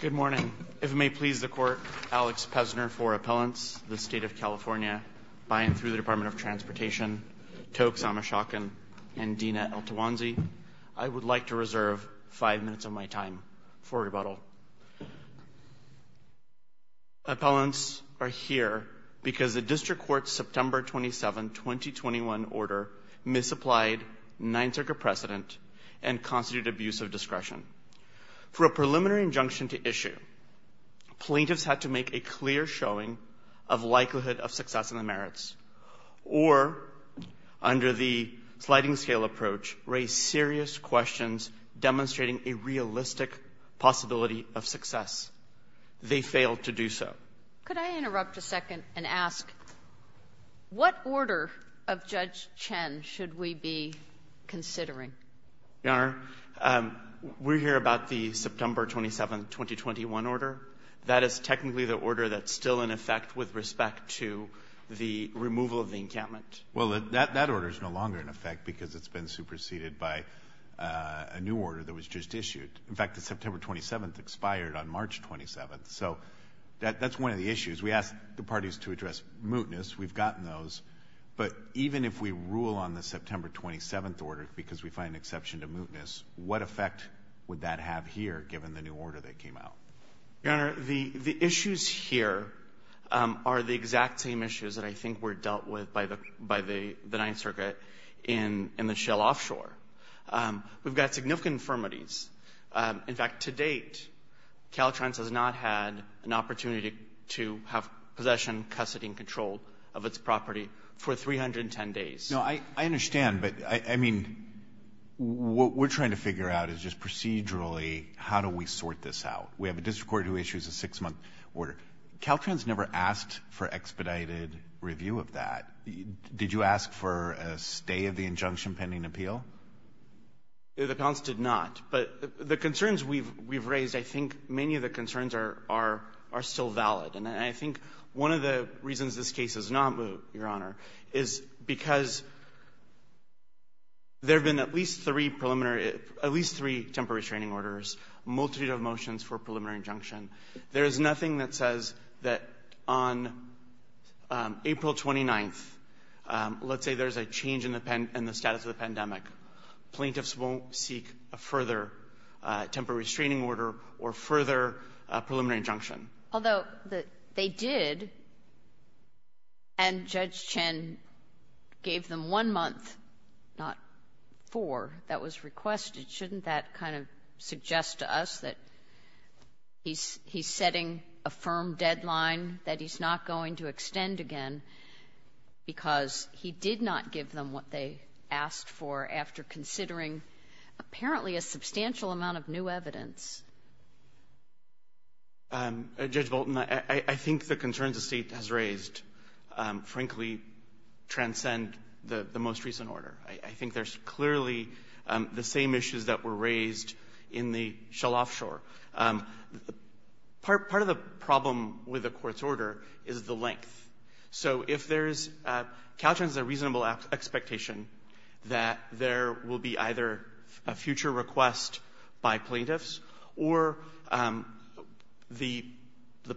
Good morning. If it may please the Court, Alex Pesner for Appellants, the State of California, by and through the Department of Transportation, Tokes Amashokan, and Dina El-Tawanzi. I would like to begin by acknowledging that the Supreme Court's September 27, 2021, order misapplied Ninth Circuit precedent and constituted abuse of discretion. For a preliminary injunction to issue, plaintiffs had to make a clear showing of likelihood of success in the merits or, under the sliding scale approach, raise serious questions demonstrating a realistic possibility of success. They failed to do so. Could I interrupt a second and ask, what order of Judge Chen should we be considering? Your Honor, we're here about the September 27, 2021, order. That is technically the order that's still in effect with respect to the removal of the encampment. Well, that order is no longer in effect because it's been superseded by a new order that was just issued. In fact, the September 27 expired on March 27. So that's one of the issues. We asked the parties to address mootness. We've gotten those. But even if we rule on the September 27 order because we find an exception to mootness, what effect would that have here given the new order that came out? Your Honor, the issues here are the exact same issues that I think were dealt with by the Ninth Circuit in the Shell offshore. We've got significant infirmities. In fact, to date, Caltrans has not had an opportunity to have possession, custody, and control of its property for 310 days. No, I understand. But, I mean, what we're trying to figure out is just procedurally how do we sort this out? We have a district court who issues a six-month order. Caltrans never asked for expedited review of that. Did you ask for a stay of the injunction pending appeal? The appellants did not. But the concerns we've raised, I think many of the concerns are still valid. And I think one of the reasons this case is not moot, Your Honor, is because there have been at least three preliminary at least three temporary restraining orders, a multitude of motions for a preliminary injunction. There is nothing that says that on April 29th, let's say there's a change in the status of the pandemic, plaintiffs won't seek a further temporary restraining order or further preliminary injunction. Although they did, and Judge Chen gave them one month, not four, that was requested. Shouldn't that kind of suggest to us that he's setting a firm deadline, that he's not going to extend again because he did not give them what they asked for after considering apparently a substantial amount of new evidence? Judge Bolton, I think the concerns the State has raised, frankly, transcend the most recent order. I think there's clearly the same issues that were raised in the Shalof Shore. Part of the problem with the Court's order is the length. So if there's a reasonable expectation that there will be either a future request by plaintiffs or the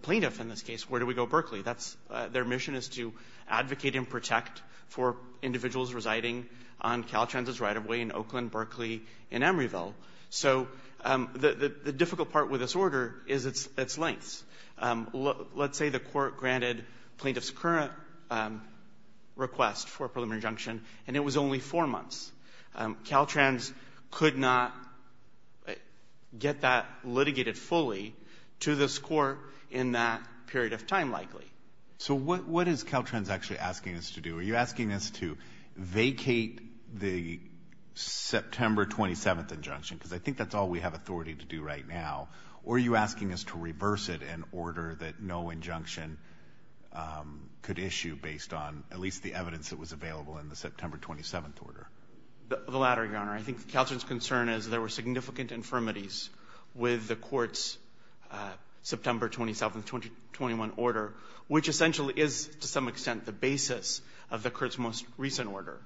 plaintiff in this case, where do we go, Berkeley? That's their mission, is to advocate and protect for individuals residing on Caltrans's right-of-way in Oakland, Berkeley, and Emeryville. So the difficult part with this order is its lengths. Let's say the Court granted plaintiffs' current request for a preliminary injunction, and it was only four months. Caltrans could not get that So what is Caltrans actually asking us to do? Are you asking us to vacate the September 27th injunction? Because I think that's all we have authority to do right now. Or are you asking us to reverse it in order that no injunction could issue based on at least the evidence that was available in the September 27th order? The latter, Your Honor. I think Caltrans's concern is there were significant infirmities with the Court's September 27th, 2021 order, which essentially is, to some extent, the basis of the Court's most recent order.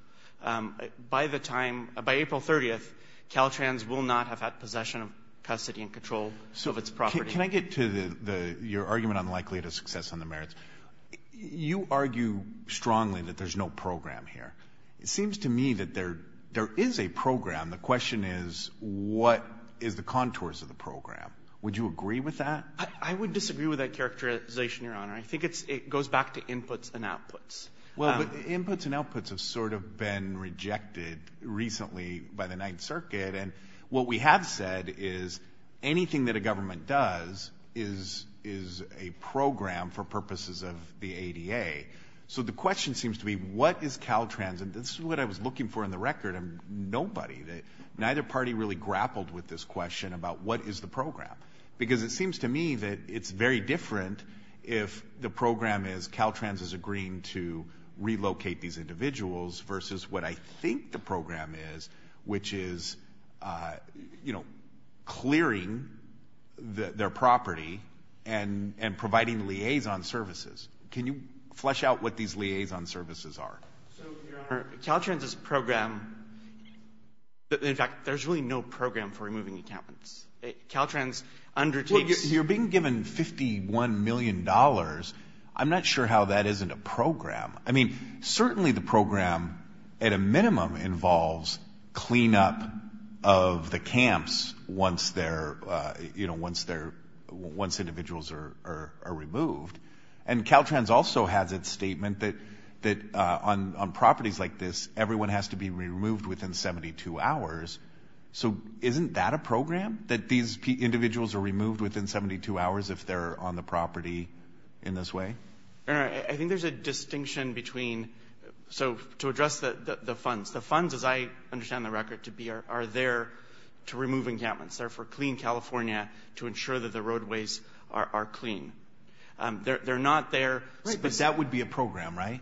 By the time, by April 30th, Caltrans will not have had possession of custody and control of its property. So can I get to your argument on the likelihood of success on the merits? You argue strongly that there's no program here. It seems to me that there is a program. The question is, what is the contours of the program? Would you agree with that? I would disagree with that characterization, Your Honor. I think it goes back to inputs and outputs. Well, inputs and outputs have sort of been rejected recently by the Ninth Circuit, and what we have said is anything that a government does is a program for purposes of the ADA. So the question seems to be, what is Caltrans? And this is what I was looking for in the record, and nobody, neither party really grappled with this question about what is the program. Because it seems to me that it's very different if the program is Caltrans is agreeing to relocate these individuals versus what I think the program is, which is, you know, clearing their property and providing liaison services. Can you flesh out what these liaison services are? So, Your Honor, Caltrans' program, in fact, there's really no program for removing encampments. Caltrans undertakes— You're being given $51 million. I'm not sure how that isn't a program. I mean, certainly the program, at a minimum, involves cleanup of the camps once individuals are removed. And Caltrans also has its statement that on properties like this, everyone has to be removed within 72 hours. So isn't that a program, that these individuals are removed within 72 hours if they're on the property in this way? Your Honor, I think there's a distinction between—so to address the funds. The funds, as I understand the record to be, are there to remove encampments. They're for clean They're not there— Right, but that would be a program, right?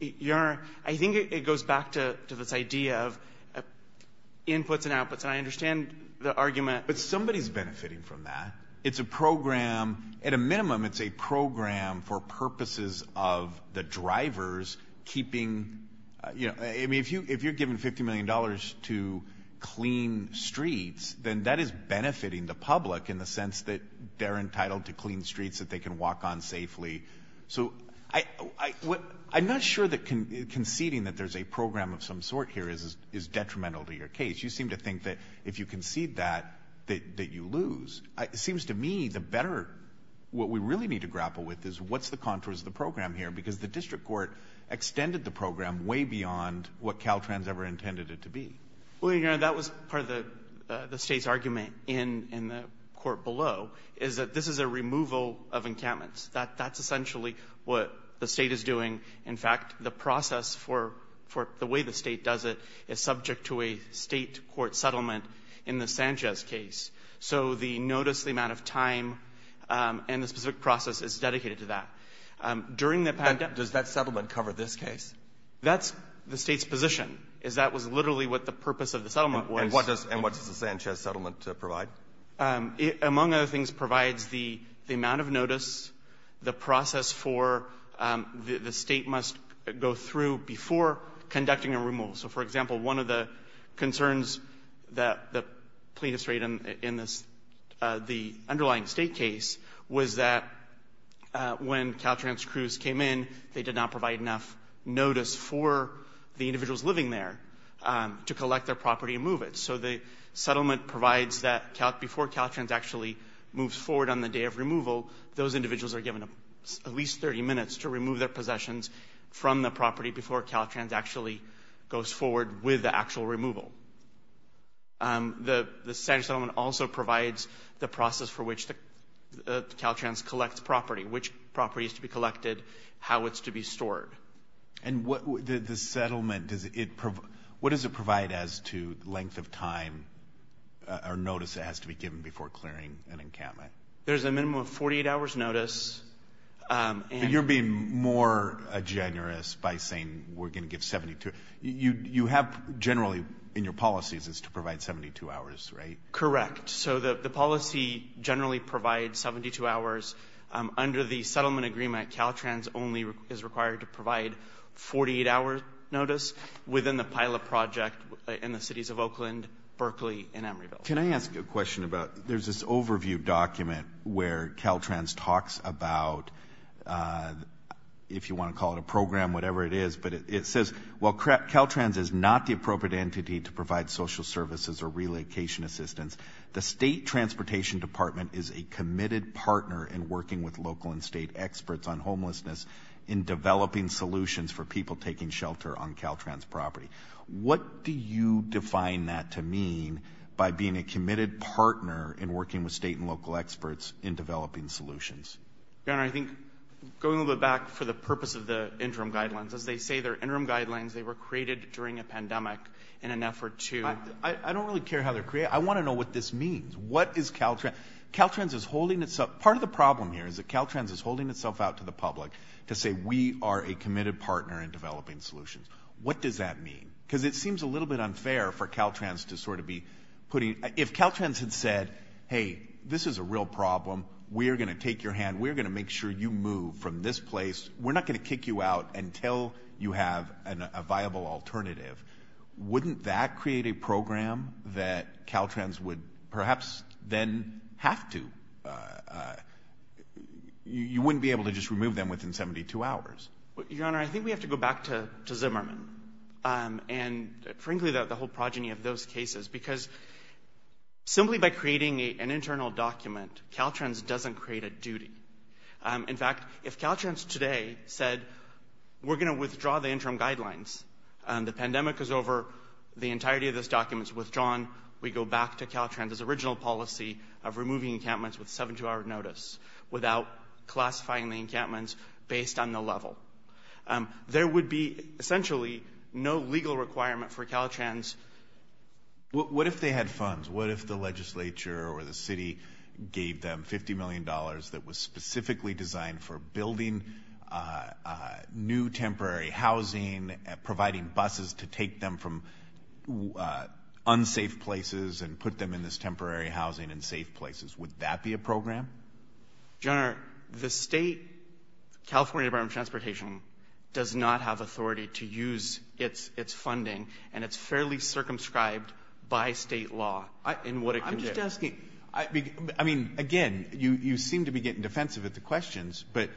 Your Honor, I think it goes back to this idea of inputs and outputs, and I understand the argument— But somebody's benefiting from that. It's a program—at a minimum, it's a program for purposes of the drivers keeping—I mean, if you're given $50 million to clean streets, then that is benefiting the public in the sense that they're entitled to clean streets that they can walk on safely. So I'm not sure that conceding that there's a program of some sort here is detrimental to your case. You seem to think that if you concede that, that you lose. It seems to me the better—what we really need to grapple with is what's the contours of the program here, because the District Court extended the program way beyond what Caltrans ever intended it to be. Well, Your Honor, that was part of the State's argument in the court below, is that this is a removal of encampments. That's essentially what the State is doing. In fact, the process for the way the State does it is subject to a State court settlement in the Sanchez case. So the notice, the amount of time, and the specific process is dedicated to that. During the pandemic— Does that settlement cover this case? That's the State's position, is that was literally what the purpose of the settlement was. And what does the Sanchez settlement provide? Among other things, it provides the amount of notice, the process for the State must go through before conducting a removal. So, for example, one of the concerns that the plaintiffs rate in this, the underlying State case, was that when Caltrans crews came in, they did not provide enough notice for the individuals living there to collect their property and move it. So the settlement provides that before Caltrans actually moves forward on the day of removal, those individuals are given at least 30 minutes to remove their possessions from the property before Caltrans actually goes forward with the actual removal. The Sanchez settlement also provides the process for which Caltrans collects property, which property is to be collected, how it's to be stored. And what does the settlement provide as to the length of time or notice that has to be given before clearing an encampment? There's a minimum of 48 hours notice. You're being more generous by saying we're going to give 72. You have generally in your policies is to provide 72 hours, right? Correct. So the policy generally provides 72 hours. Under the settlement agreement, Caltrans only is required to provide 48 hours notice within the pilot project in the cities of Oakland, Berkeley, and Emeryville. Can I ask a question about, there's this overview document where Caltrans talks about, if you want to call it a program, whatever it is, but it says, well, Caltrans is not the state transportation department is a committed partner in working with local and state experts on homelessness, in developing solutions for people taking shelter on Caltrans property. What do you define that to mean by being a committed partner in working with state and local experts in developing solutions? Governor, I think going a little bit back for the purpose of the interim guidelines, as they say, their interim guidelines, they were created during a pandemic in an effort to... I don't really care how they're created. I want to know what this means. What is Caltrans? Caltrans is holding itself... Part of the problem here is that Caltrans is holding itself out to the public to say, we are a committed partner in developing solutions. What does that mean? Because it seems a little bit unfair for Caltrans to sort of be putting... If Caltrans had said, hey, this is a real problem. We are going to take your hand. We're going to make sure you move from this place. We're not going to kick you out until you have a viable alternative. Wouldn't that create a program that Caltrans would perhaps then have to... You wouldn't be able to just remove them within 72 hours. Your Honor, I think we have to go back to Zimmerman and frankly, the whole progeny of those cases because simply by creating an internal document, Caltrans doesn't create a duty. In fact, if Caltrans today said, we're going to withdraw the interim guidelines, the pandemic is over, the entirety of this document is withdrawn. We go back to Caltrans' original policy of removing encampments with 72-hour notice without classifying the encampments based on the level. There would be essentially no legal requirement for Caltrans. What if they had funds? What if the legislature or the city gave them $50 million that was specifically designed for building new temporary housing, providing buses to take them from unsafe places and put them in this temporary housing in safe places? Would that be a program? Your Honor, the state California Department of Transportation does not have authority to use its funding and it's fairly circumscribed by state law in what it can do. I'm just asking. I mean, again, you seem to be getting defensive at the questions, but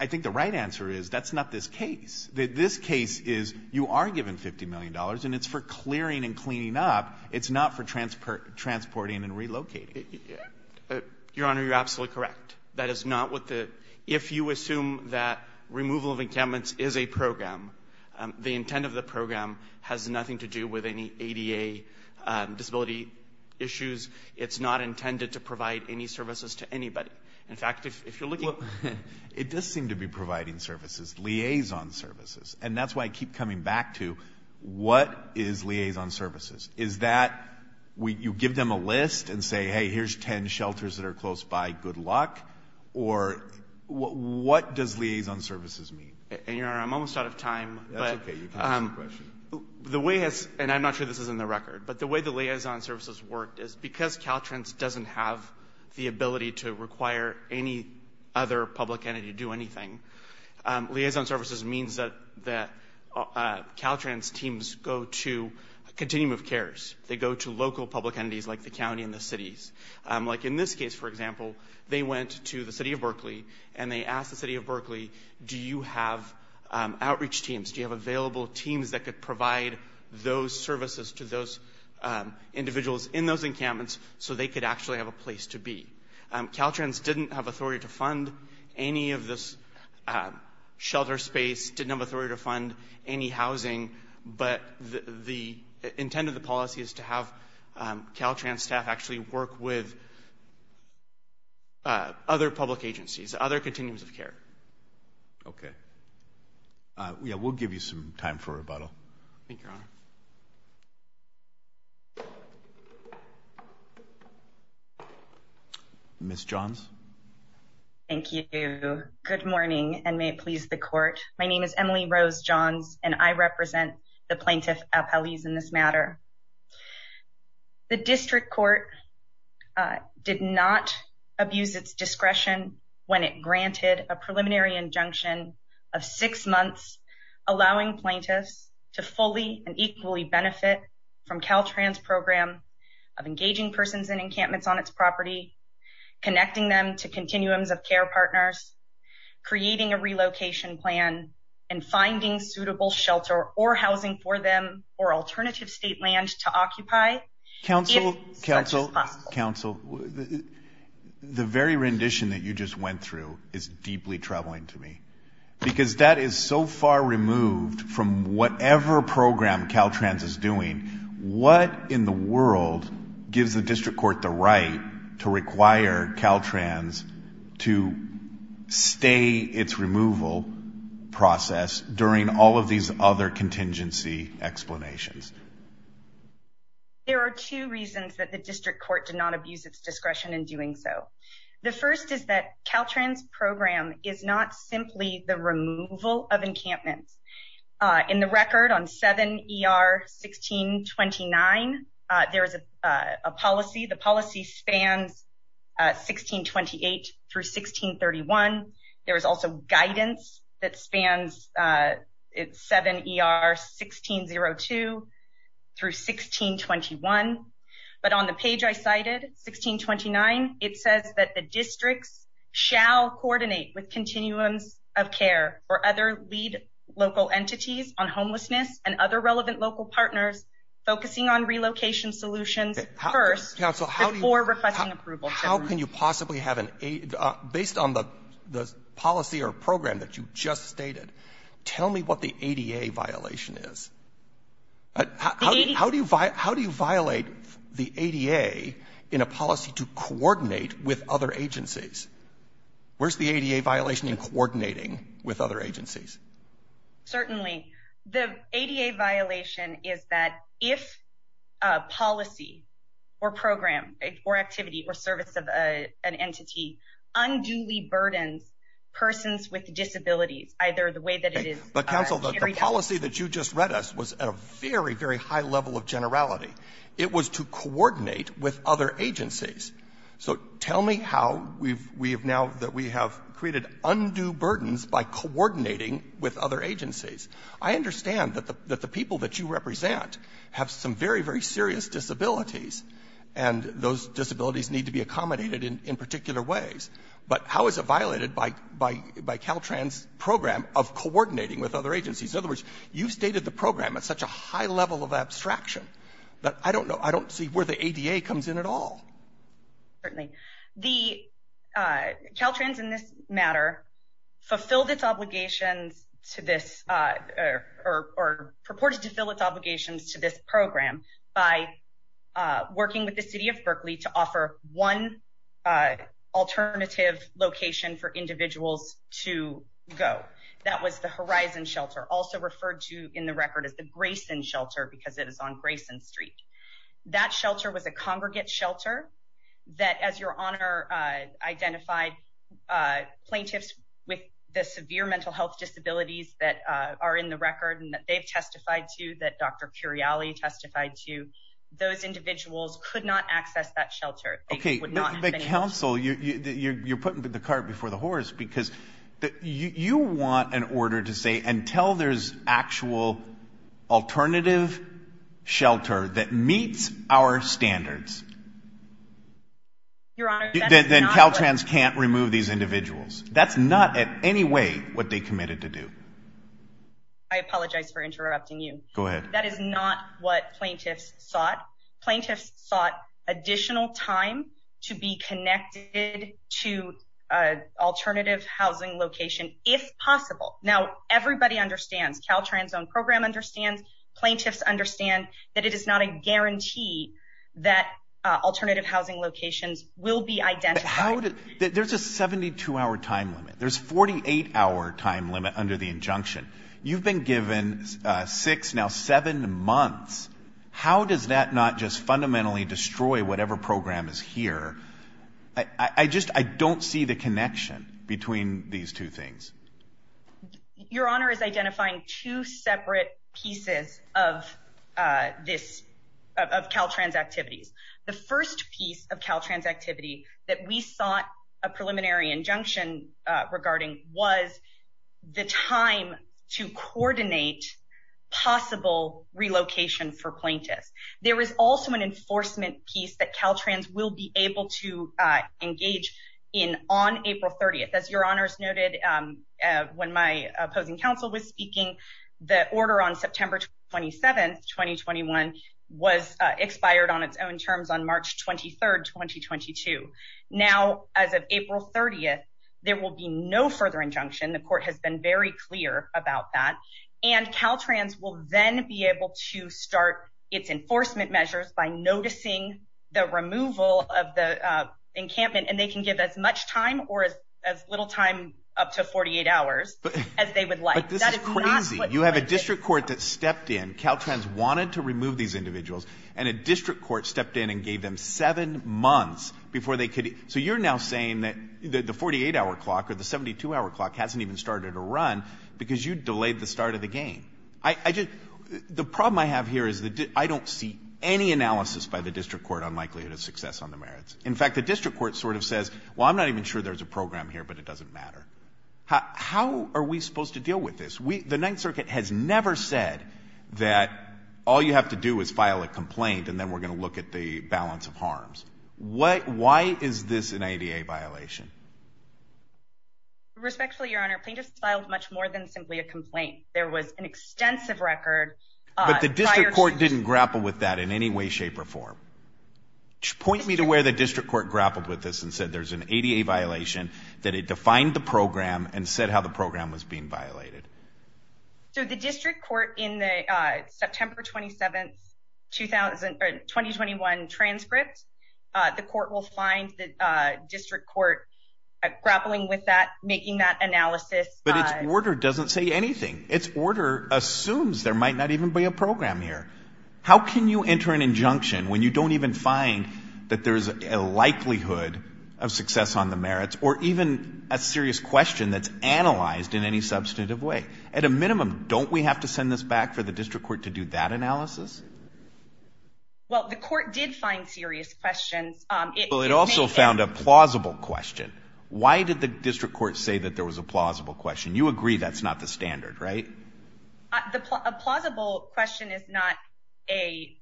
I think the right answer is that's not this case. This case is you are given $50 million and it's for clearing and cleaning up. It's not for transporting and relocating. Your Honor, you're absolutely correct. That is not what the — if you assume that removal of encampments is a program, the intent of the program has nothing to do with any ADA disability issues. It's not intended to provide any services to anybody. In fact, if you're looking — Well, it does seem to be providing services, liaison services. And that's why I keep coming back to what is liaison services? Is that you give them a list and say, hey, here's 10 shelters that are close by. Good luck. Or what does liaison services mean? And Your Honor, I'm almost out of time. That's okay. You can ask the question. The way — and I'm not sure this is in the record, but the way the liaison services worked is because Caltrans doesn't have the ability to require any other public entity to do anything, liaison services means that Caltrans teams go to a continuum of cares. They go to local public entities like the county and the cities. Like in this case, for example, they went to the city of Berkeley and they asked the city of Berkeley, do you have outreach teams? Do you have available teams that could provide those services to those individuals in those encampments so they could actually have a place to be? Caltrans didn't have authority to fund any of this shelter space, didn't have authority to fund any housing, but the intent of the policy is to have Caltrans staff actually work with other public agencies, other continuums of care. Okay. Yeah, we'll give you some time for rebuttal. Thank you, Your Honor. Ms. Johns? Thank you. Good morning, and may it please the court. My name is Emily Rose Johns, and I represent the plaintiff, Apalis, in this matter. The district court did not abuse its discretion when it granted a preliminary injunction of six months allowing plaintiffs to fully and equally benefit from Caltrans' program of engaging persons in encampments on its property, connecting them to continuums of care partners, creating a relocation plan, and finding suitable shelter or housing for them or alternative state land to occupy. Counsel, counsel, counsel, the very rendition that you just went through is deeply troubling to me because that is so far removed from whatever program Caltrans is doing. What in the world gives the district court the right to require Caltrans to stay its removal process during all of these other contingency explanations? There are two reasons that the district court did not abuse its discretion in doing so. The first is that Caltrans' program is not simply the removal of encampments. In the record on 7 ER 1629, there is a policy. The policy spans 1628 through 1631. There is also guidance that spans 7 ER 1602 through 1621. But on the page I cited, 1629, it says that the districts shall coordinate with continuums of care or other lead local entities on homelessness and other relevant local partners focusing on relocation solutions first before requesting approval. How can you possibly have an aid based on the policy or program that you just stated? Tell me what the ADA violation is. How do you violate the ADA in a policy to coordinate with other agencies? Where's the ADA violation in coordinating with other agencies? Certainly, the ADA violation is that if a policy or program or activity or service of an entity unduly burdens persons with disabilities, either the way that it is carried out. The policy that you just read us was at a very, very high level of generality. It was to coordinate with other agencies. So tell me how we have now that we have created undue burdens by coordinating with other agencies. I understand that the people that you represent have some very, very serious disabilities, and those disabilities need to be accommodated in particular ways. But how is it violated by Caltrans' program of coordinating with other agencies? In other words, you've stated the program at such a high level of abstraction that I don't know. I don't see where the ADA comes in at all. Certainly. Caltrans in this matter fulfilled its obligations to this or purported to fill its obligations to this program by working with the city of Berkeley to offer one alternative location for individuals to go. That was the Horizon Shelter, also referred to in the record as the Grayson Shelter, because it is on Grayson Street. That shelter was a congregate shelter that, as your honor identified, plaintiffs with the severe mental health disabilities that are in the record and that they've testified to, that Dr. Curiali testified to, those individuals could not access that shelter. Okay, but counsel, you're putting the cart before the horse, because you want an order to say, until there's actual alternative shelter that meets our standards, then Caltrans can't remove these individuals. That's not in any way what they committed to do. I apologize for interrupting you. Go ahead. That is not what plaintiffs sought. Plaintiffs sought additional time to be connected to an alternative housing location, if possible. Now, everybody understands. Caltrans' own program understands. Plaintiffs understand that it is not a guarantee that alternative housing locations will be identified. How did... There's a 72-hour time limit. There's a 48-hour time limit under the injunction. You've been given six, now seven months. How does that not just fundamentally destroy whatever program is here? I don't see the connection between these two things. Your honor is identifying two separate pieces of Caltrans activities. The first piece of Caltrans activity that we sought a preliminary injunction regarding was the time to coordinate possible relocation for plaintiffs. There is also an enforcement piece that Caltrans will be able to engage in on April 30th. As your honors noted, when my opposing counsel was speaking, the order on September 27th, was expired on its own terms on March 23rd, 2022. Now, as of April 30th, there will be no further injunction. The court has been very clear about that. And Caltrans will then be able to start its enforcement measures by noticing the removal of the encampment. And they can give as much time or as little time, up to 48 hours, as they would like. But this is crazy. You have a district court that stepped in. Caltrans wanted to remove these individuals. And a district court stepped in and gave them seven months before they could. So you're now saying that the 48-hour clock or the 72-hour clock hasn't even started a run because you delayed the start of the game. The problem I have here is that I don't see any analysis by the district court on likelihood of success on the merits. In fact, the district court sort of says, well, I'm not even sure there's a program here, but it doesn't matter. How are we supposed to deal with this? The Ninth Circuit has never said that all you have to do is file a complaint, and then we're going to look at the balance of harms. Why is this an ADA violation? Respectfully, Your Honor, plaintiffs filed much more than simply a complaint. There was an extensive record. But the district court didn't grapple with that in any way, shape, or form. Point me to where the district court grappled with this and said there's an ADA violation, that it defined the program and said how the program was being violated. So the district court in the September 27, 2021 transcript, the court will find the district court grappling with that, making that analysis. But its order doesn't say anything. Its order assumes there might not even be a program here. How can you enter an injunction when you don't even find that there's a likelihood of success on the merits or even a serious question that's analyzed in any substantive way? At a minimum, don't we have to send this back for the district court to do that analysis? Well, the court did find serious questions. It also found a plausible question. Why did the district court say that there was a plausible question? You agree that's not the standard, right? A plausible question is not a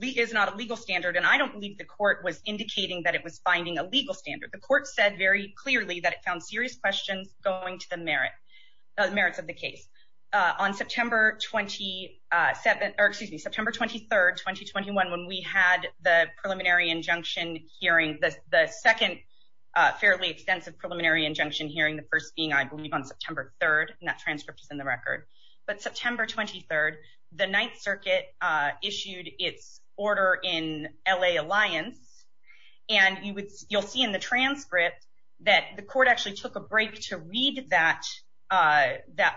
legal standard, and I don't believe the court was indicating that it was finding a legal standard. The court said very clearly that it found serious questions going to the merits of the on September 27, or excuse me, September 23, 2021, when we had the preliminary injunction hearing, the second fairly extensive preliminary injunction hearing, the first being, I believe, on September 3, and that transcript is in the record. But September 23, the Ninth Circuit issued its order in L.A. Alliance, and you'll see in the transcript that the court actually took a break to read that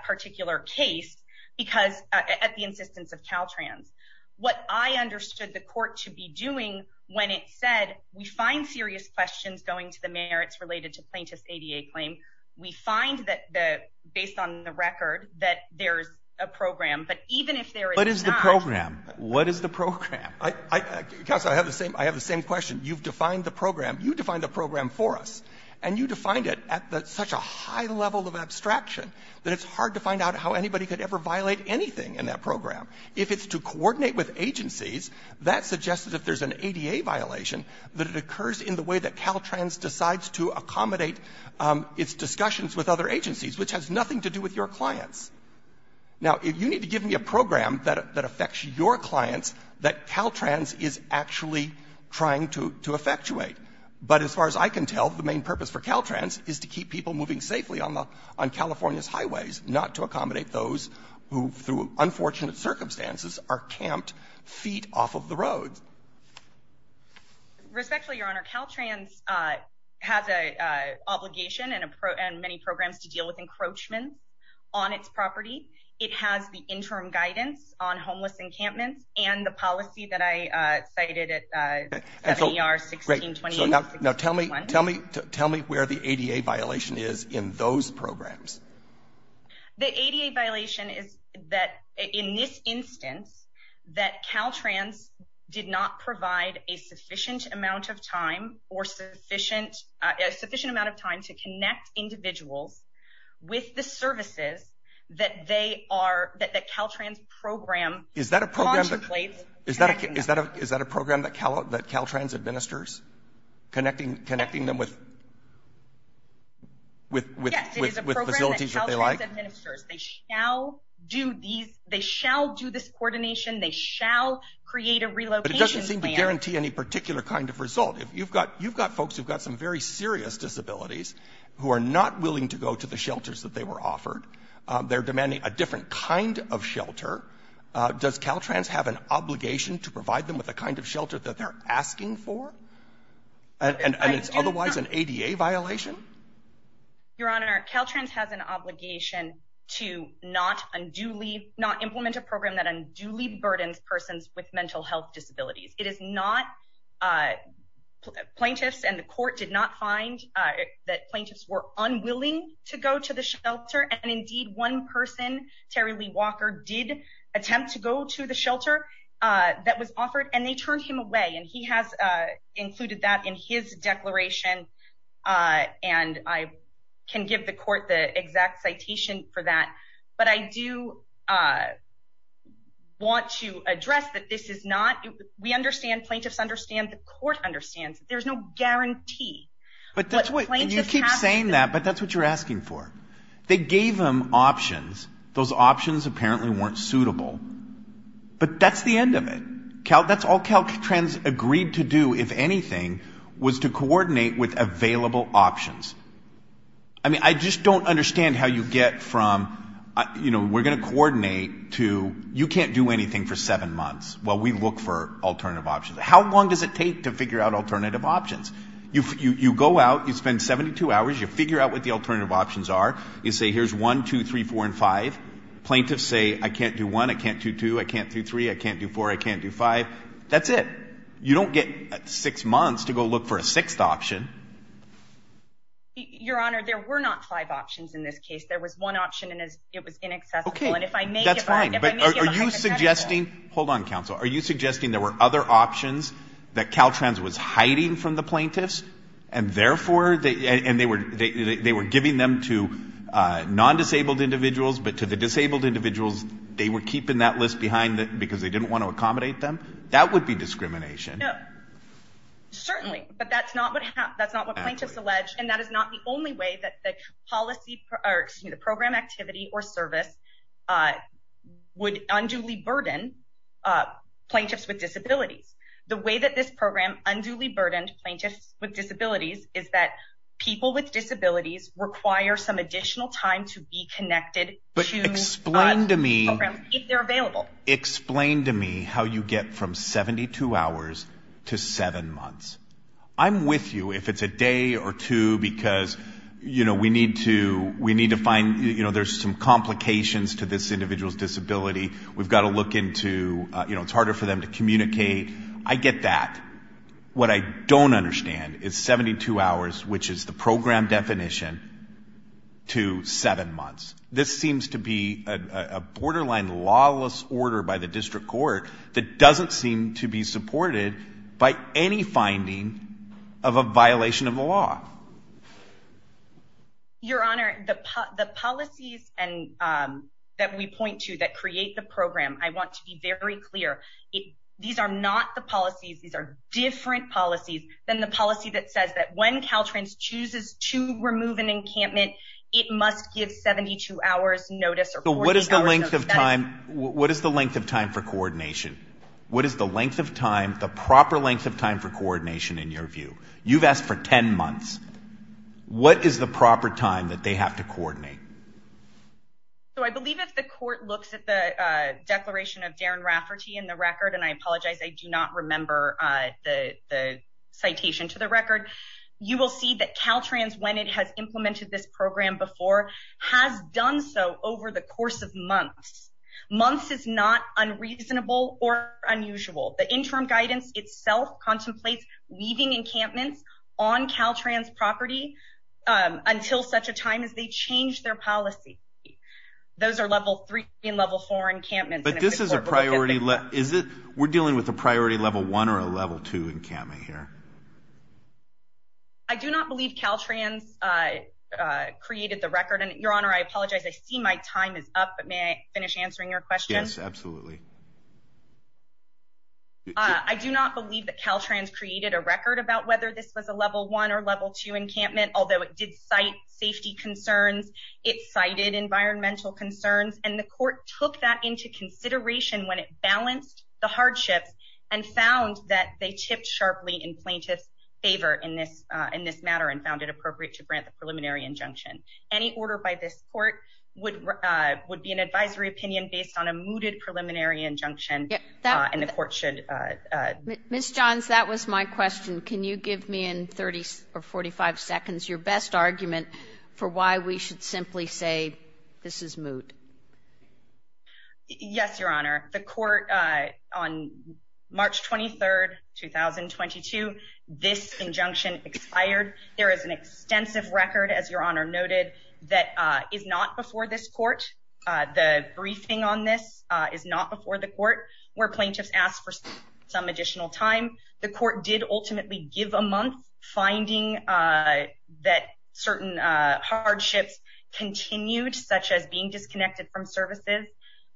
particular case because at the insistence of Caltrans. What I understood the court to be doing when it said we find serious questions going to the merits related to plaintiff's ADA claim, we find that based on the record that there's a program. But even if there is not— What is the program? What is the program? Counsel, I have the same question. You've defined the program. You defined the program for us, and you defined it at such a high level of abstraction that it's hard to find out how anybody could ever violate anything in that program. If it's to coordinate with agencies, that suggests that if there's an ADA violation, that it occurs in the way that Caltrans decides to accommodate its discussions with other agencies, which has nothing to do with your clients. Now, you need to give me a program that affects your clients that Caltrans is actually trying to effectuate. But as far as I can tell, the main purpose for Caltrans is to keep people moving safely on California's highways, not to accommodate those who, through unfortunate circumstances, are camped feet off of the roads. Respectfully, Your Honor, Caltrans has an obligation and many programs to deal with encroachments on its property. It has the interim guidance on homeless encampments and the policy that I cited at the beginning of my testimony. Now, tell me where the ADA violation is in those programs. The ADA violation is that, in this instance, that Caltrans did not provide a sufficient amount of time or sufficient amount of time to connect individuals with the services that they are, that Caltrans program contemplates. Is that a program that Caltrans administers, connecting them with facilities that they Yes, it is a program that Caltrans administers. They shall do this coordination. They shall create a relocation plan. But it doesn't seem to guarantee any particular kind of result. If you've got folks who've got some very serious disabilities who are not willing to go to the shelters that they were offered, they're demanding a different kind of shelter, does Caltrans have an obligation to provide them with the kind of shelter that they're asking for? And it's otherwise an ADA violation? Your Honor, Caltrans has an obligation to not unduly, not implement a program that unduly burdens persons with mental health disabilities. It is not, plaintiffs and the court did not find that plaintiffs were unwilling to go to the shelter. And indeed, one person, Terry Lee Walker, did attempt to go to the shelter that was offered and they turned him away. And he has included that in his declaration. And I can give the court the exact citation for that. But I do want to address that this is not, we understand, plaintiffs understand, the court understands, there's no guarantee. But you keep saying that, but that's what you're asking for. They gave them options. Those options apparently weren't suitable. But that's the end of it. That's all Caltrans agreed to do, if anything, was to coordinate with available options. I mean, I just don't understand how you get from, you know, we're going to coordinate to you can't do anything for seven months while we look for alternative options. How long does it take to figure out alternative options? You go out, you spend 72 hours, you figure out what the alternative options are. You say, here's one, two, three, four, and five. Plaintiffs say, I can't do one. I can't do two. I can't do three. I can't do four. I can't do five. That's it. You don't get six months to go look for a sixth option. Your Honor, there were not five options in this case. There was one option and it was inaccessible. And if I may get behind that, that's fine. But are you suggesting, hold on, counsel. Are you suggesting there were other options that Caltrans was hiding from the plaintiffs and therefore they were giving them to non-disabled individuals, but to the disabled individuals they were keeping that list behind because they didn't want to accommodate them? That would be discrimination. No, certainly. But that's not what plaintiffs allege. And that is not the only way that the program activity or service would unduly burden plaintiffs with disabilities. The way that this program unduly burdened plaintiffs with disabilities is that people with disabilities require some additional time to be connected to programs if they're available. Explain to me how you get from 72 hours to seven months. I'm with you if it's a day or two because we need to find, there's some complications to this individual's disability. We've got to look into, it's harder for them to communicate. I get that. What I don't understand is 72 hours, which is the program definition, to seven months. This seems to be a borderline lawless order by the district court that doesn't seem to be supported by any finding of a violation of the law. Your Honor, the policies that we point to that create the program, I want to be very clear, these are not the policies, these are different policies than the policy that says that when Caltrans chooses to remove an encampment, it must give 72 hours notice or 14 hours notice. So what is the length of time for coordination? What is the length of time, the proper length of time for coordination in your view? You've asked for 10 months. What is the proper time that they have to coordinate? I believe if the court looks at the declaration of Darren Rafferty in the record, and I apologize, I do not remember the citation to the record, you will see that Caltrans, when it has implemented this program before, has done so over the course of months. Months is not unreasonable or unusual. The interim guidance itself contemplates leaving encampments on Caltrans property until such a time as they change their policy. Those are level 3 and level 4 encampments. But this is a priority, is it? We're dealing with a priority level 1 or a level 2 encampment here? I do not believe Caltrans created the record, and Your Honor, I apologize, I see my time is up, but may I finish answering your question? Yes, absolutely. I do not believe that Caltrans created a record about whether this was a level 1 or level 2 encampment, although it did cite safety concerns, it cited environmental concerns, and the court took that into consideration when it balanced the hardships and found that they tipped sharply in plaintiff's favor in this matter and found it appropriate to grant the preliminary injunction. Any order by this court would be an advisory opinion based on a mooted preliminary injunction, and the court should... Ms. Johns, that was my question. Can you give me in 30 or 45 seconds your best argument for why we should simply say, this is moot? Yes, Your Honor. The court on March 23rd, 2022, this injunction expired. There is an extensive record, as Your Honor noted, that is not before this court. The briefing on this is not before the court, where plaintiffs asked for some additional time. The court did ultimately give a month, finding that certain hardships continued, such as being disconnected from services,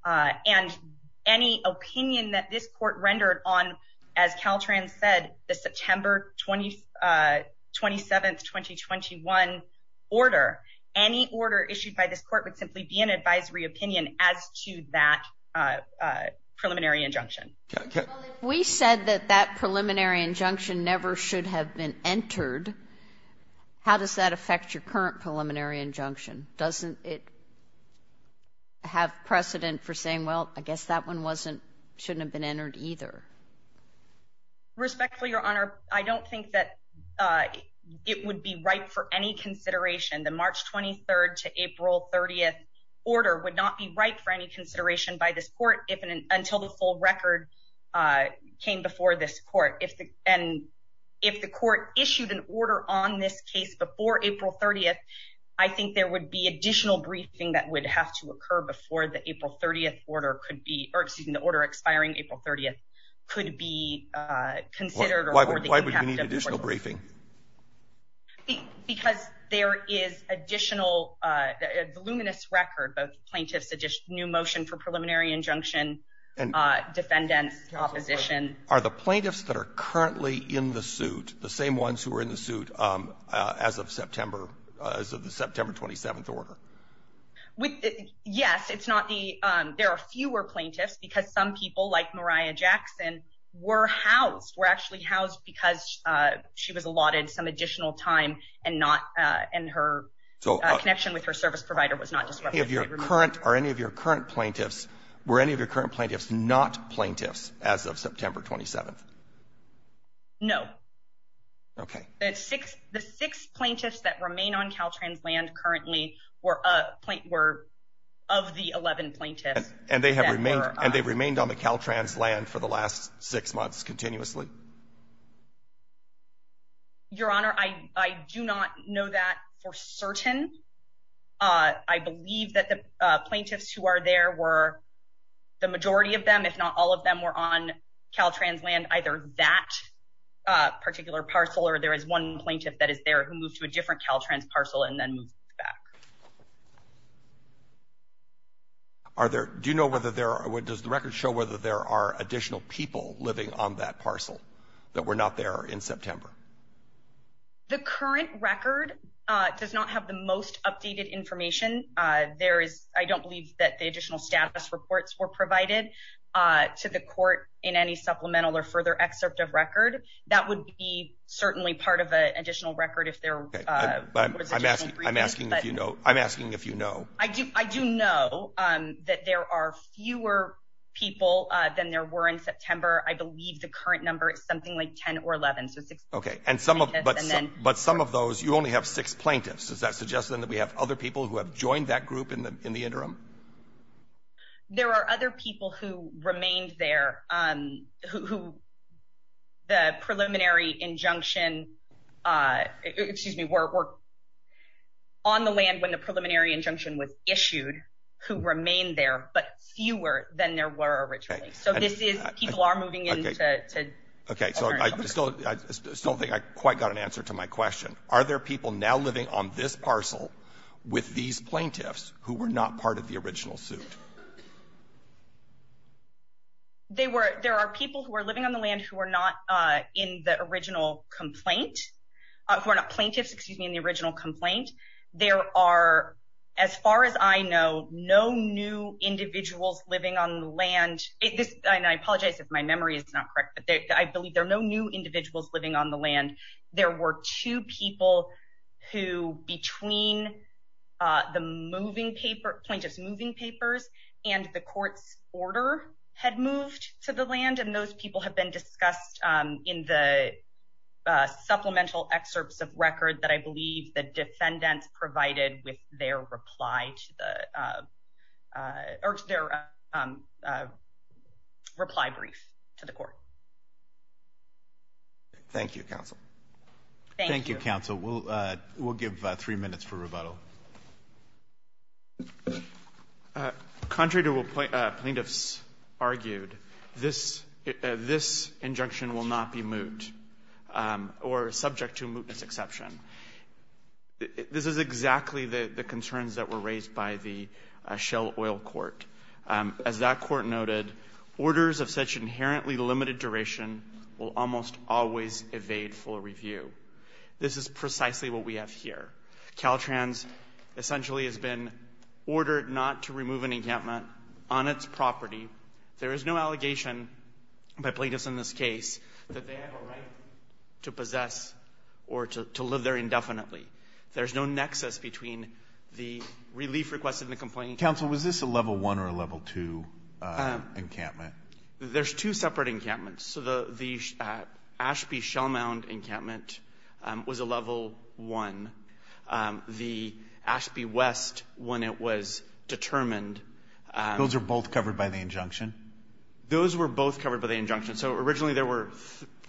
and any opinion that this court rendered on, as Caltrans said, the September 27th, 2021 order, any order issued by this court would simply be an advisory opinion as to that preliminary injunction. We said that that preliminary injunction never should have been entered. How does that affect your current preliminary injunction? Doesn't it have precedent for saying, well, I guess that one shouldn't have been entered either? Respectfully, Your Honor, I don't think that it would be ripe for any consideration. The March 23rd to April 30th order would not be ripe for any consideration by this court until the full record came before this court. And if the court issued an order on this case before April 30th, I think there would be additional briefing that would have to occur before the April 30th order could be, or excuse me, the order expiring April 30th could be considered. Why would you need additional briefing? Because there is additional, a voluminous record of plaintiffs, a new motion for preliminary injunction, defendants, opposition. Are the plaintiffs that are currently in the suit the same ones who are in the suit as of September, as of the September 27th order? Yes, it's not the, there are fewer plaintiffs because some people like Mariah Jackson were housed, were actually housed because she was allotted some additional time and not, and her connection with her service provider was not disrupted. Are any of your current plaintiffs, were any of your current plaintiffs not plaintiffs as of September 27th? No. Okay. The six plaintiffs that remain on Caltrans land currently were of the 11 plaintiffs. And they have remained, and they've remained on the Caltrans land for the last six months continuously? Your Honor, I do not know that for certain. I believe that the plaintiffs who are there were, the majority of them, if not all of them were on Caltrans land, either that particular parcel or there is one plaintiff that is there who moved to a different Caltrans parcel and then moved back. Okay. Are there, do you know whether there are, does the record show whether there are additional people living on that parcel that were not there in September? The current record does not have the most updated information. There is, I don't believe that the additional status reports were provided to the court in any supplemental or further excerpt of record. That would be certainly part of an additional record if there was additional briefings. I'm asking if you know. I do know that there are fewer people than there were in September. I believe the current number is something like 10 or 11, so six. Okay. But some of those, you only have six plaintiffs. Does that suggest then that we have other people who have joined that group in the interim? There are other people who remained there who the preliminary injunction, excuse me, on the land when the preliminary injunction was issued, who remained there, but fewer than there were originally. So this is, people are moving into, okay. So I still don't think I quite got an answer to my question. Are there people now living on this parcel with these plaintiffs who were not part of the original suit? They were, there are people who are living on the land who are not in the original complaint, who are not plaintiffs, excuse me, in the original complaint. There are, as far as I know, no new individuals living on the land. And I apologize if my memory is not correct, but I believe there are no new individuals living on the land. There were two people who between the moving paper, plaintiff's moving papers, and the court's order had moved to the land. And those people have been discussed in the supplemental excerpts of record that I believe the defendants provided with their reply to the, or their reply brief to the court. Thank you, counsel. Thank you, counsel. We'll give three minutes for rebuttal. Contrary to what plaintiffs argued, this, this injunction will not be moot or subject to mootness exception. This is exactly the concerns that were raised by the Shell Oil Court. As that court noted, orders of such inherently limited duration will almost always evade full review. This is precisely what we have here. Caltrans essentially has been ordered not to remove an encampment on its property. There is no allegation by plaintiffs in this case that they have a right to possess or to live there indefinitely. There's no nexus between the relief request and the complaint. Counsel, was this a level one or a level two encampment? There's two separate encampments. So the Ashby Shell Mound encampment was a level one. The Ashby West, when it was determined... Those are both covered by the injunction? Those were both covered by the injunction. So originally there were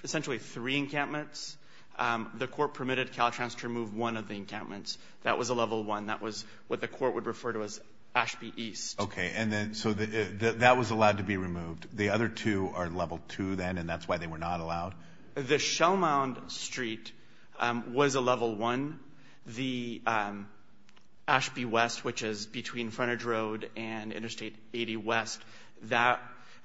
essentially three encampments. The court permitted Caltrans to remove one of the encampments. That was a level one. That was what the court would refer to as Ashby East. Okay. And then, so that was allowed to be removed. The other two are level two then, and that's why they were not allowed? The Shell Mound Street was a level one. The Ashby West, which is between Furnitge Road and Interstate 80 West, that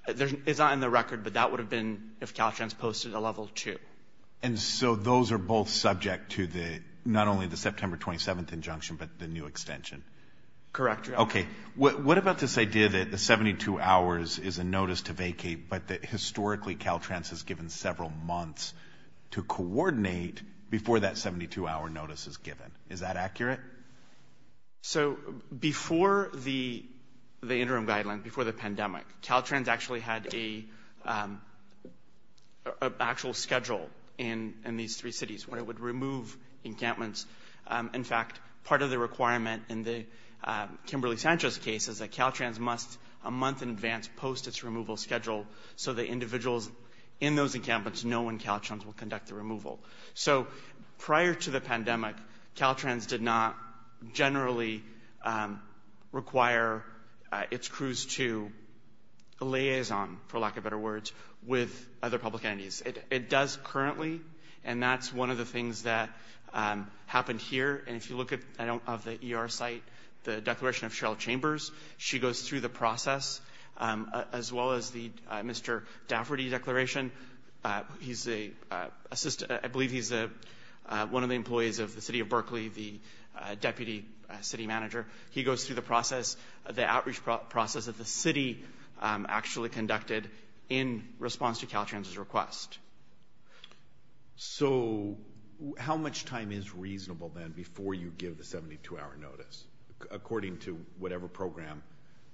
is not in the record, but that would have been, if Caltrans posted a level two. And so those are both subject to the, not only the September 27th injunction, but the new extension? Correct, Your Honor. Okay. What about this idea that the 72 hours is a notice to vacate, but that historically Caltrans has given several months to coordinate before that 72 hour notice is given? Is that accurate? So before the interim guideline, before the pandemic, Caltrans actually had an actual schedule in these three cities where it would remove encampments. In fact, part of the requirement in the Kimberly-Sanchez case is that Caltrans must, a month in advance, post its removal schedule so that individuals in those encampments know when Caltrans will conduct the removal. So prior to the pandemic, Caltrans did not generally require its crews to liaison, for lack of better words, with other public entities. It does currently, and that's one of the things that happened here. And if you look at, I don't, of the ER site, the declaration of Cheryl Chambers, she goes through the process, as well as the Mr. Dafferty declaration. He's a, I believe he's one of the employees of the city of Berkeley, the deputy city manager. He goes through the process, the outreach process that the city actually conducted in response to Caltrans's request. So how much time is reasonable then before you give the 72-hour notice? According to whatever program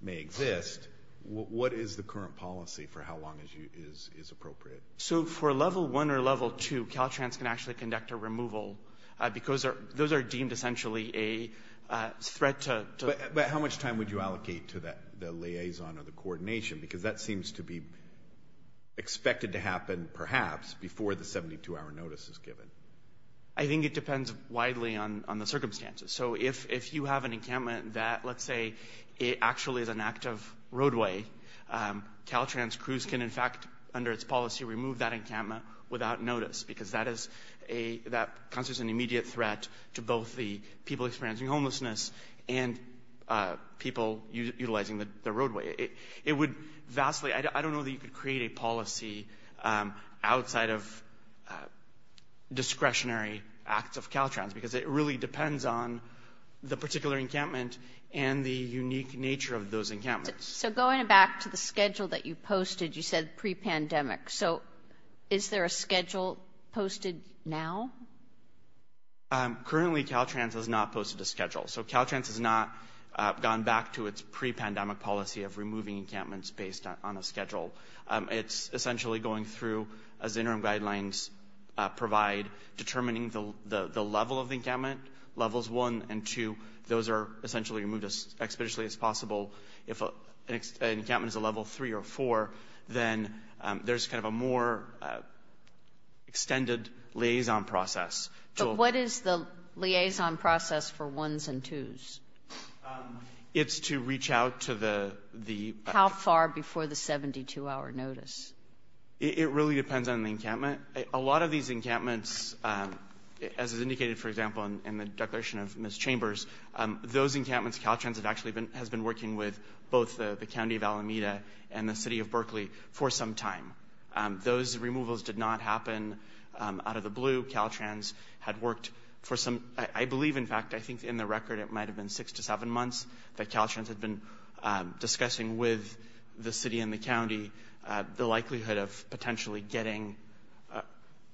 may exist, what is the current policy for how long is appropriate? So for level one or level two, Caltrans can actually conduct a removal because those are deemed essentially a threat to... But how much time would you allocate to the liaison or the coordination? Because that seems to be expected to happen, perhaps, before the 72-hour notice is given. I think it depends widely on the circumstances. So if you have an encampment that, let's say, it actually is an active roadway, Caltrans crews can in fact, under its policy, remove that encampment without notice. Because that constitutes an immediate threat to both the people experiencing homelessness and people utilizing the roadway. It would vastly... I don't know that you could create a policy outside of discretionary acts of Caltrans because it really depends on the particular encampment and the unique nature of those encampments. So going back to the schedule that you posted, you said pre-pandemic. So is there a schedule posted now? Currently, Caltrans has not posted a schedule. So Caltrans has not gone back to its pre-pandemic policy of removing encampments based on a schedule. It's essentially going through, as interim guidelines provide, determining the level of the encampment, levels one and two. Those are essentially removed as expeditiously as possible. If an encampment is a level three or four, then there's kind of a more extended liaison process. But what is the liaison process for ones and twos? It's to reach out to the... How far before the 72-hour notice? It really depends on the encampment. A lot of these encampments, as is indicated, for example, in the declaration of Ms. Chambers, those encampments, Caltrans has actually been working with both the county of Alameda and the city of Berkeley for some time. Those removals did not happen out of the blue. Caltrans had worked for some... I believe, in fact, I think in the record it might have been six to seven months that Caltrans had been discussing with the city and the county the likelihood of potentially getting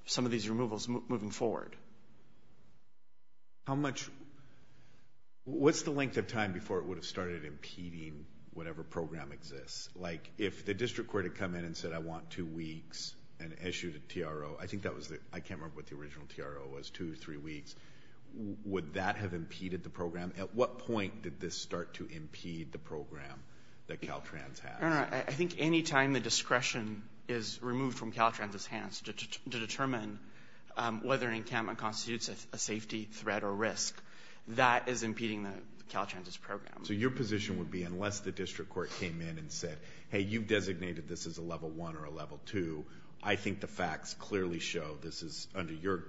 some of these removals moving forward. How much... What's the length of time before it would have started impeding whatever program exists? If the district court had come in and said, I want two weeks, and issued a TRO, I think that was the... I can't remember what the original TRO was, two, three weeks. Would that have impeded the program? At what point did this start to impede the program that Caltrans has? No, no. I think any time the discretion is removed from Caltrans's hands to determine whether an encampment constitutes a safety threat or risk, that is impeding the Caltrans's program. Your position would be, unless the district court came in and said, hey, you've designated this as a level one or a level two, I think the facts clearly show this is, under your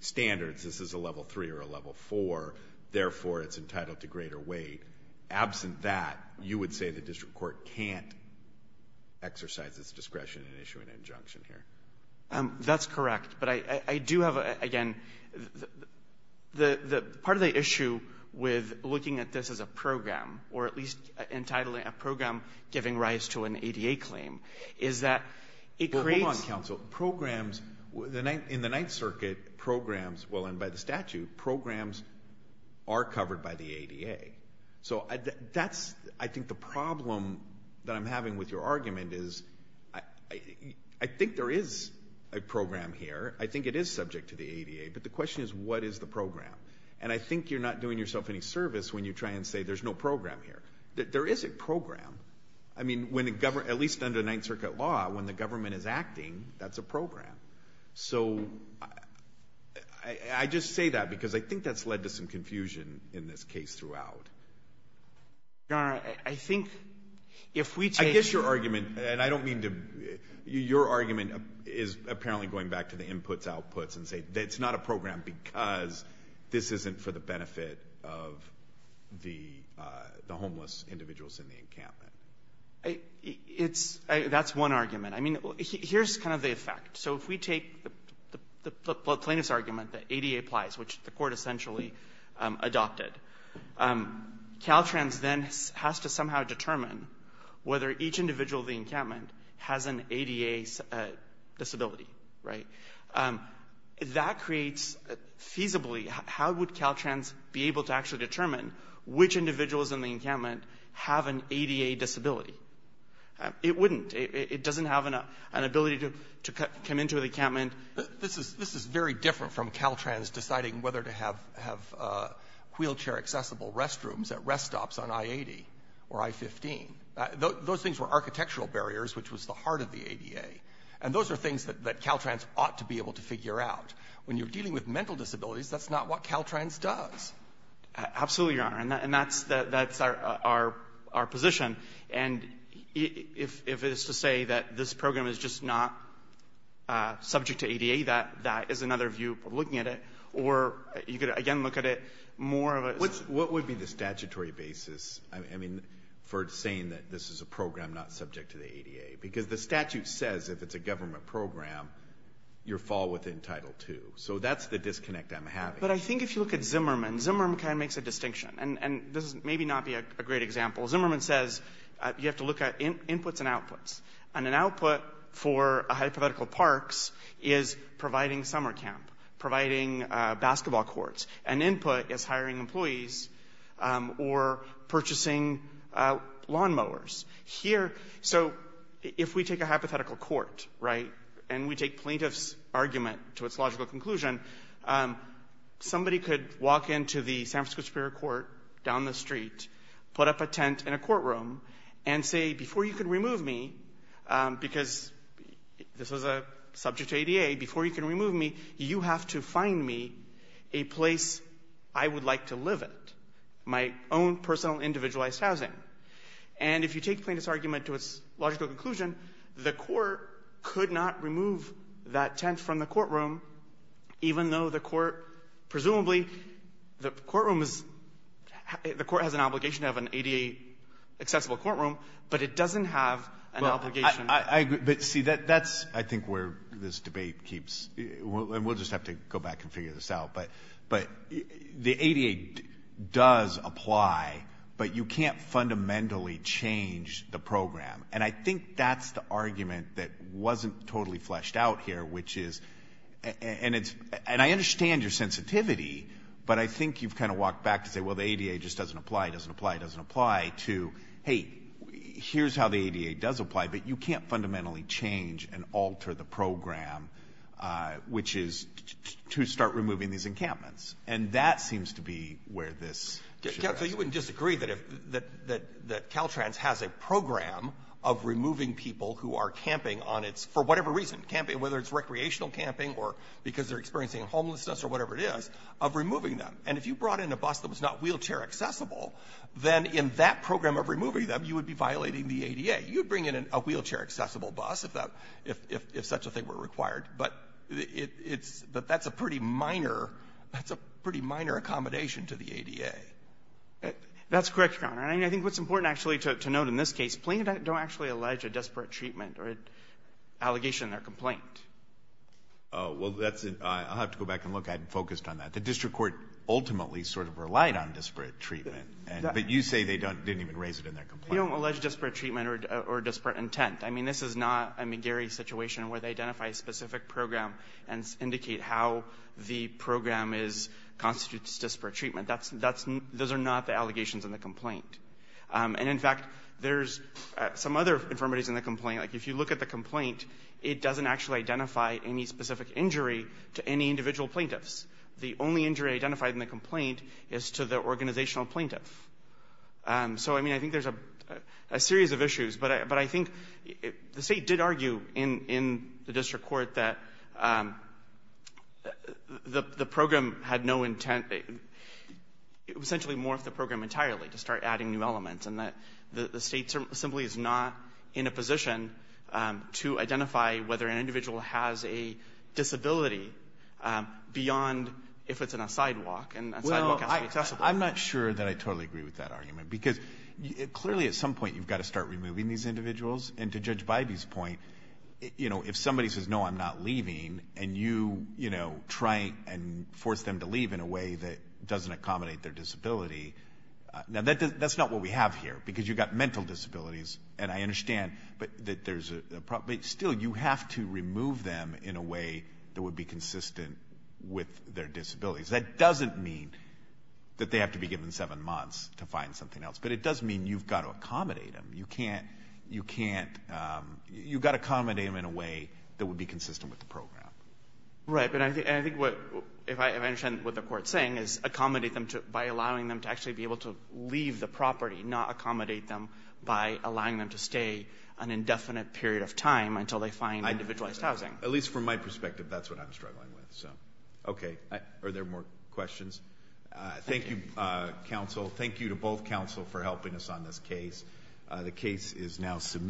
standards, this is a level three or a level four, therefore, it's entitled to greater weight. Absent that, you would say the district court can't exercise its discretion and issue an injunction here? That's correct. But I do have, again, part of the issue with looking at this as a program, or at least entitling a program giving rise to an ADA claim, is that it creates... Well, hold on, counsel. Programs, in the Ninth Circuit, programs, well, and by the statute, programs are covered by the ADA. So that's, I think, the problem that I'm having with your argument is, I think there is a subject to the ADA, but the question is, what is the program? And I think you're not doing yourself any service when you try and say there's no program here. There is a program. I mean, at least under Ninth Circuit law, when the government is acting, that's a program. So I just say that because I think that's led to some confusion in this case throughout. Your Honor, I think if we take... I guess your argument, and I don't mean to... Your argument is apparently going back to the inputs, outputs, and say it's not a program because this isn't for the benefit of the homeless individuals in the encampment. That's one argument. I mean, here's kind of the effect. So if we take the plaintiff's argument that ADA applies, which the court essentially adopted, Caltrans then has to somehow determine whether each individual in the encampment has an ADA disability, right? That creates, feasibly, how would Caltrans be able to actually determine which individuals in the encampment have an ADA disability? It wouldn't. It doesn't have an ability to come into the encampment. This is very different from Caltrans deciding whether to have wheelchair accessible restrooms at rest stops on I-80 or I-15. Those things were architectural barriers, which was the heart of the ADA. And those are things that Caltrans ought to be able to figure out. When you're dealing with mental disabilities, that's not what Caltrans does. Absolutely, Your Honor. And that's our position. And if it's to say that this program is just not subject to ADA, that is another view looking at it. Or you could, again, look at it more of a... What would be the statutory basis? I mean, for saying that this is a program not subject to the ADA. Because the statute says if it's a government program, you're fall within Title II. So that's the disconnect I'm having. But I think if you look at Zimmerman, Zimmerman kind of makes a distinction. And this may not be a great example. Zimmerman says you have to look at inputs and outputs. And an output for a hypothetical parks is providing summer camp, providing basketball courts. An input is hiring employees or purchasing lawnmowers. Here, so if we take a hypothetical court, right, and we take plaintiff's argument to its logical conclusion, somebody could walk into the San Francisco Superior Court down the street, put up a tent in a courtroom, and say, before you can remove me, because this was a subject to ADA, before you can remove me, you have to find me a place I would like to live at, my own personal individualized housing. And if you take plaintiff's argument to its logical conclusion, the court could not remove that tent from the courtroom, even though the court, presumably, the courtroom is... The court has an obligation to have an ADA-accessible courtroom, but it doesn't have an obligation... We'll just have to go back and figure this out. But the ADA does apply, but you can't fundamentally change the program. And I think that's the argument that wasn't totally fleshed out here, which is... And I understand your sensitivity, but I think you've kind of walked back to say, well, the ADA just doesn't apply, doesn't apply, doesn't apply, to, hey, here's how the ADA does apply, but you can't fundamentally change and alter the program, which is to start removing these encampments. And that seems to be where this should rest. So you wouldn't disagree that Caltrans has a program of removing people who are camping on its... For whatever reason, whether it's recreational camping or because they're experiencing homelessness or whatever it is, of removing them. And if you brought in a bus that was not wheelchair accessible, then in that program of removing them, you would be violating the ADA. You'd bring in a wheelchair accessible bus if such a thing were required. But that's a pretty minor accommodation to the ADA. That's correct, Your Honor. And I think what's important actually to note in this case, plaintiffs don't actually allege a desperate treatment or allegation in their complaint. Oh, well, I'll have to go back and look. I hadn't focused on that. The district court ultimately sort of relied on desperate treatment, but you say they didn't even raise it in their complaint. They don't allege desperate treatment or desperate intent. I mean, this is not a McGarry situation where they identify a specific program and indicate how the program constitutes desperate treatment. Those are not the allegations in the complaint. And in fact, there's some other infirmities in the complaint. If you look at the complaint, it doesn't actually identify any specific injury to any individual plaintiffs. The only injury identified in the complaint is to the organizational plaintiff. So, I mean, I think there's a series of issues. But I think the State did argue in the district court that the program had no intent. It essentially morphed the program entirely to start adding new elements, and that the State simply is not in a position to identify whether an individual has a disability beyond if it's in a sidewalk, and a sidewalk has to be accessible. I'm not sure that I totally agree with that argument. Because clearly, at some point, you've got to start removing these individuals. And to Judge Bybee's point, if somebody says, no, I'm not leaving, and you try and force them to leave in a way that doesn't accommodate their disability. Now, that's not what we have here, because you've got mental disabilities. And I understand that there's a problem. But still, you have to remove them in a way that would be consistent with their disabilities. That doesn't mean that they have to be given seven months to find something else. But it does mean you've got to accommodate them. You can't, you can't, you've got to accommodate them in a way that would be consistent with the program. Right. But I think what, if I understand what the court's saying, is accommodate them by allowing them to actually be able to leave the property, not accommodate them by allowing them to stay an indefinite period of time until they find individualized housing. At least from my perspective, that's what I'm struggling with. So, okay. Are there more questions? Thank you, counsel. Thank you to both counsel for helping us on this case. The case is now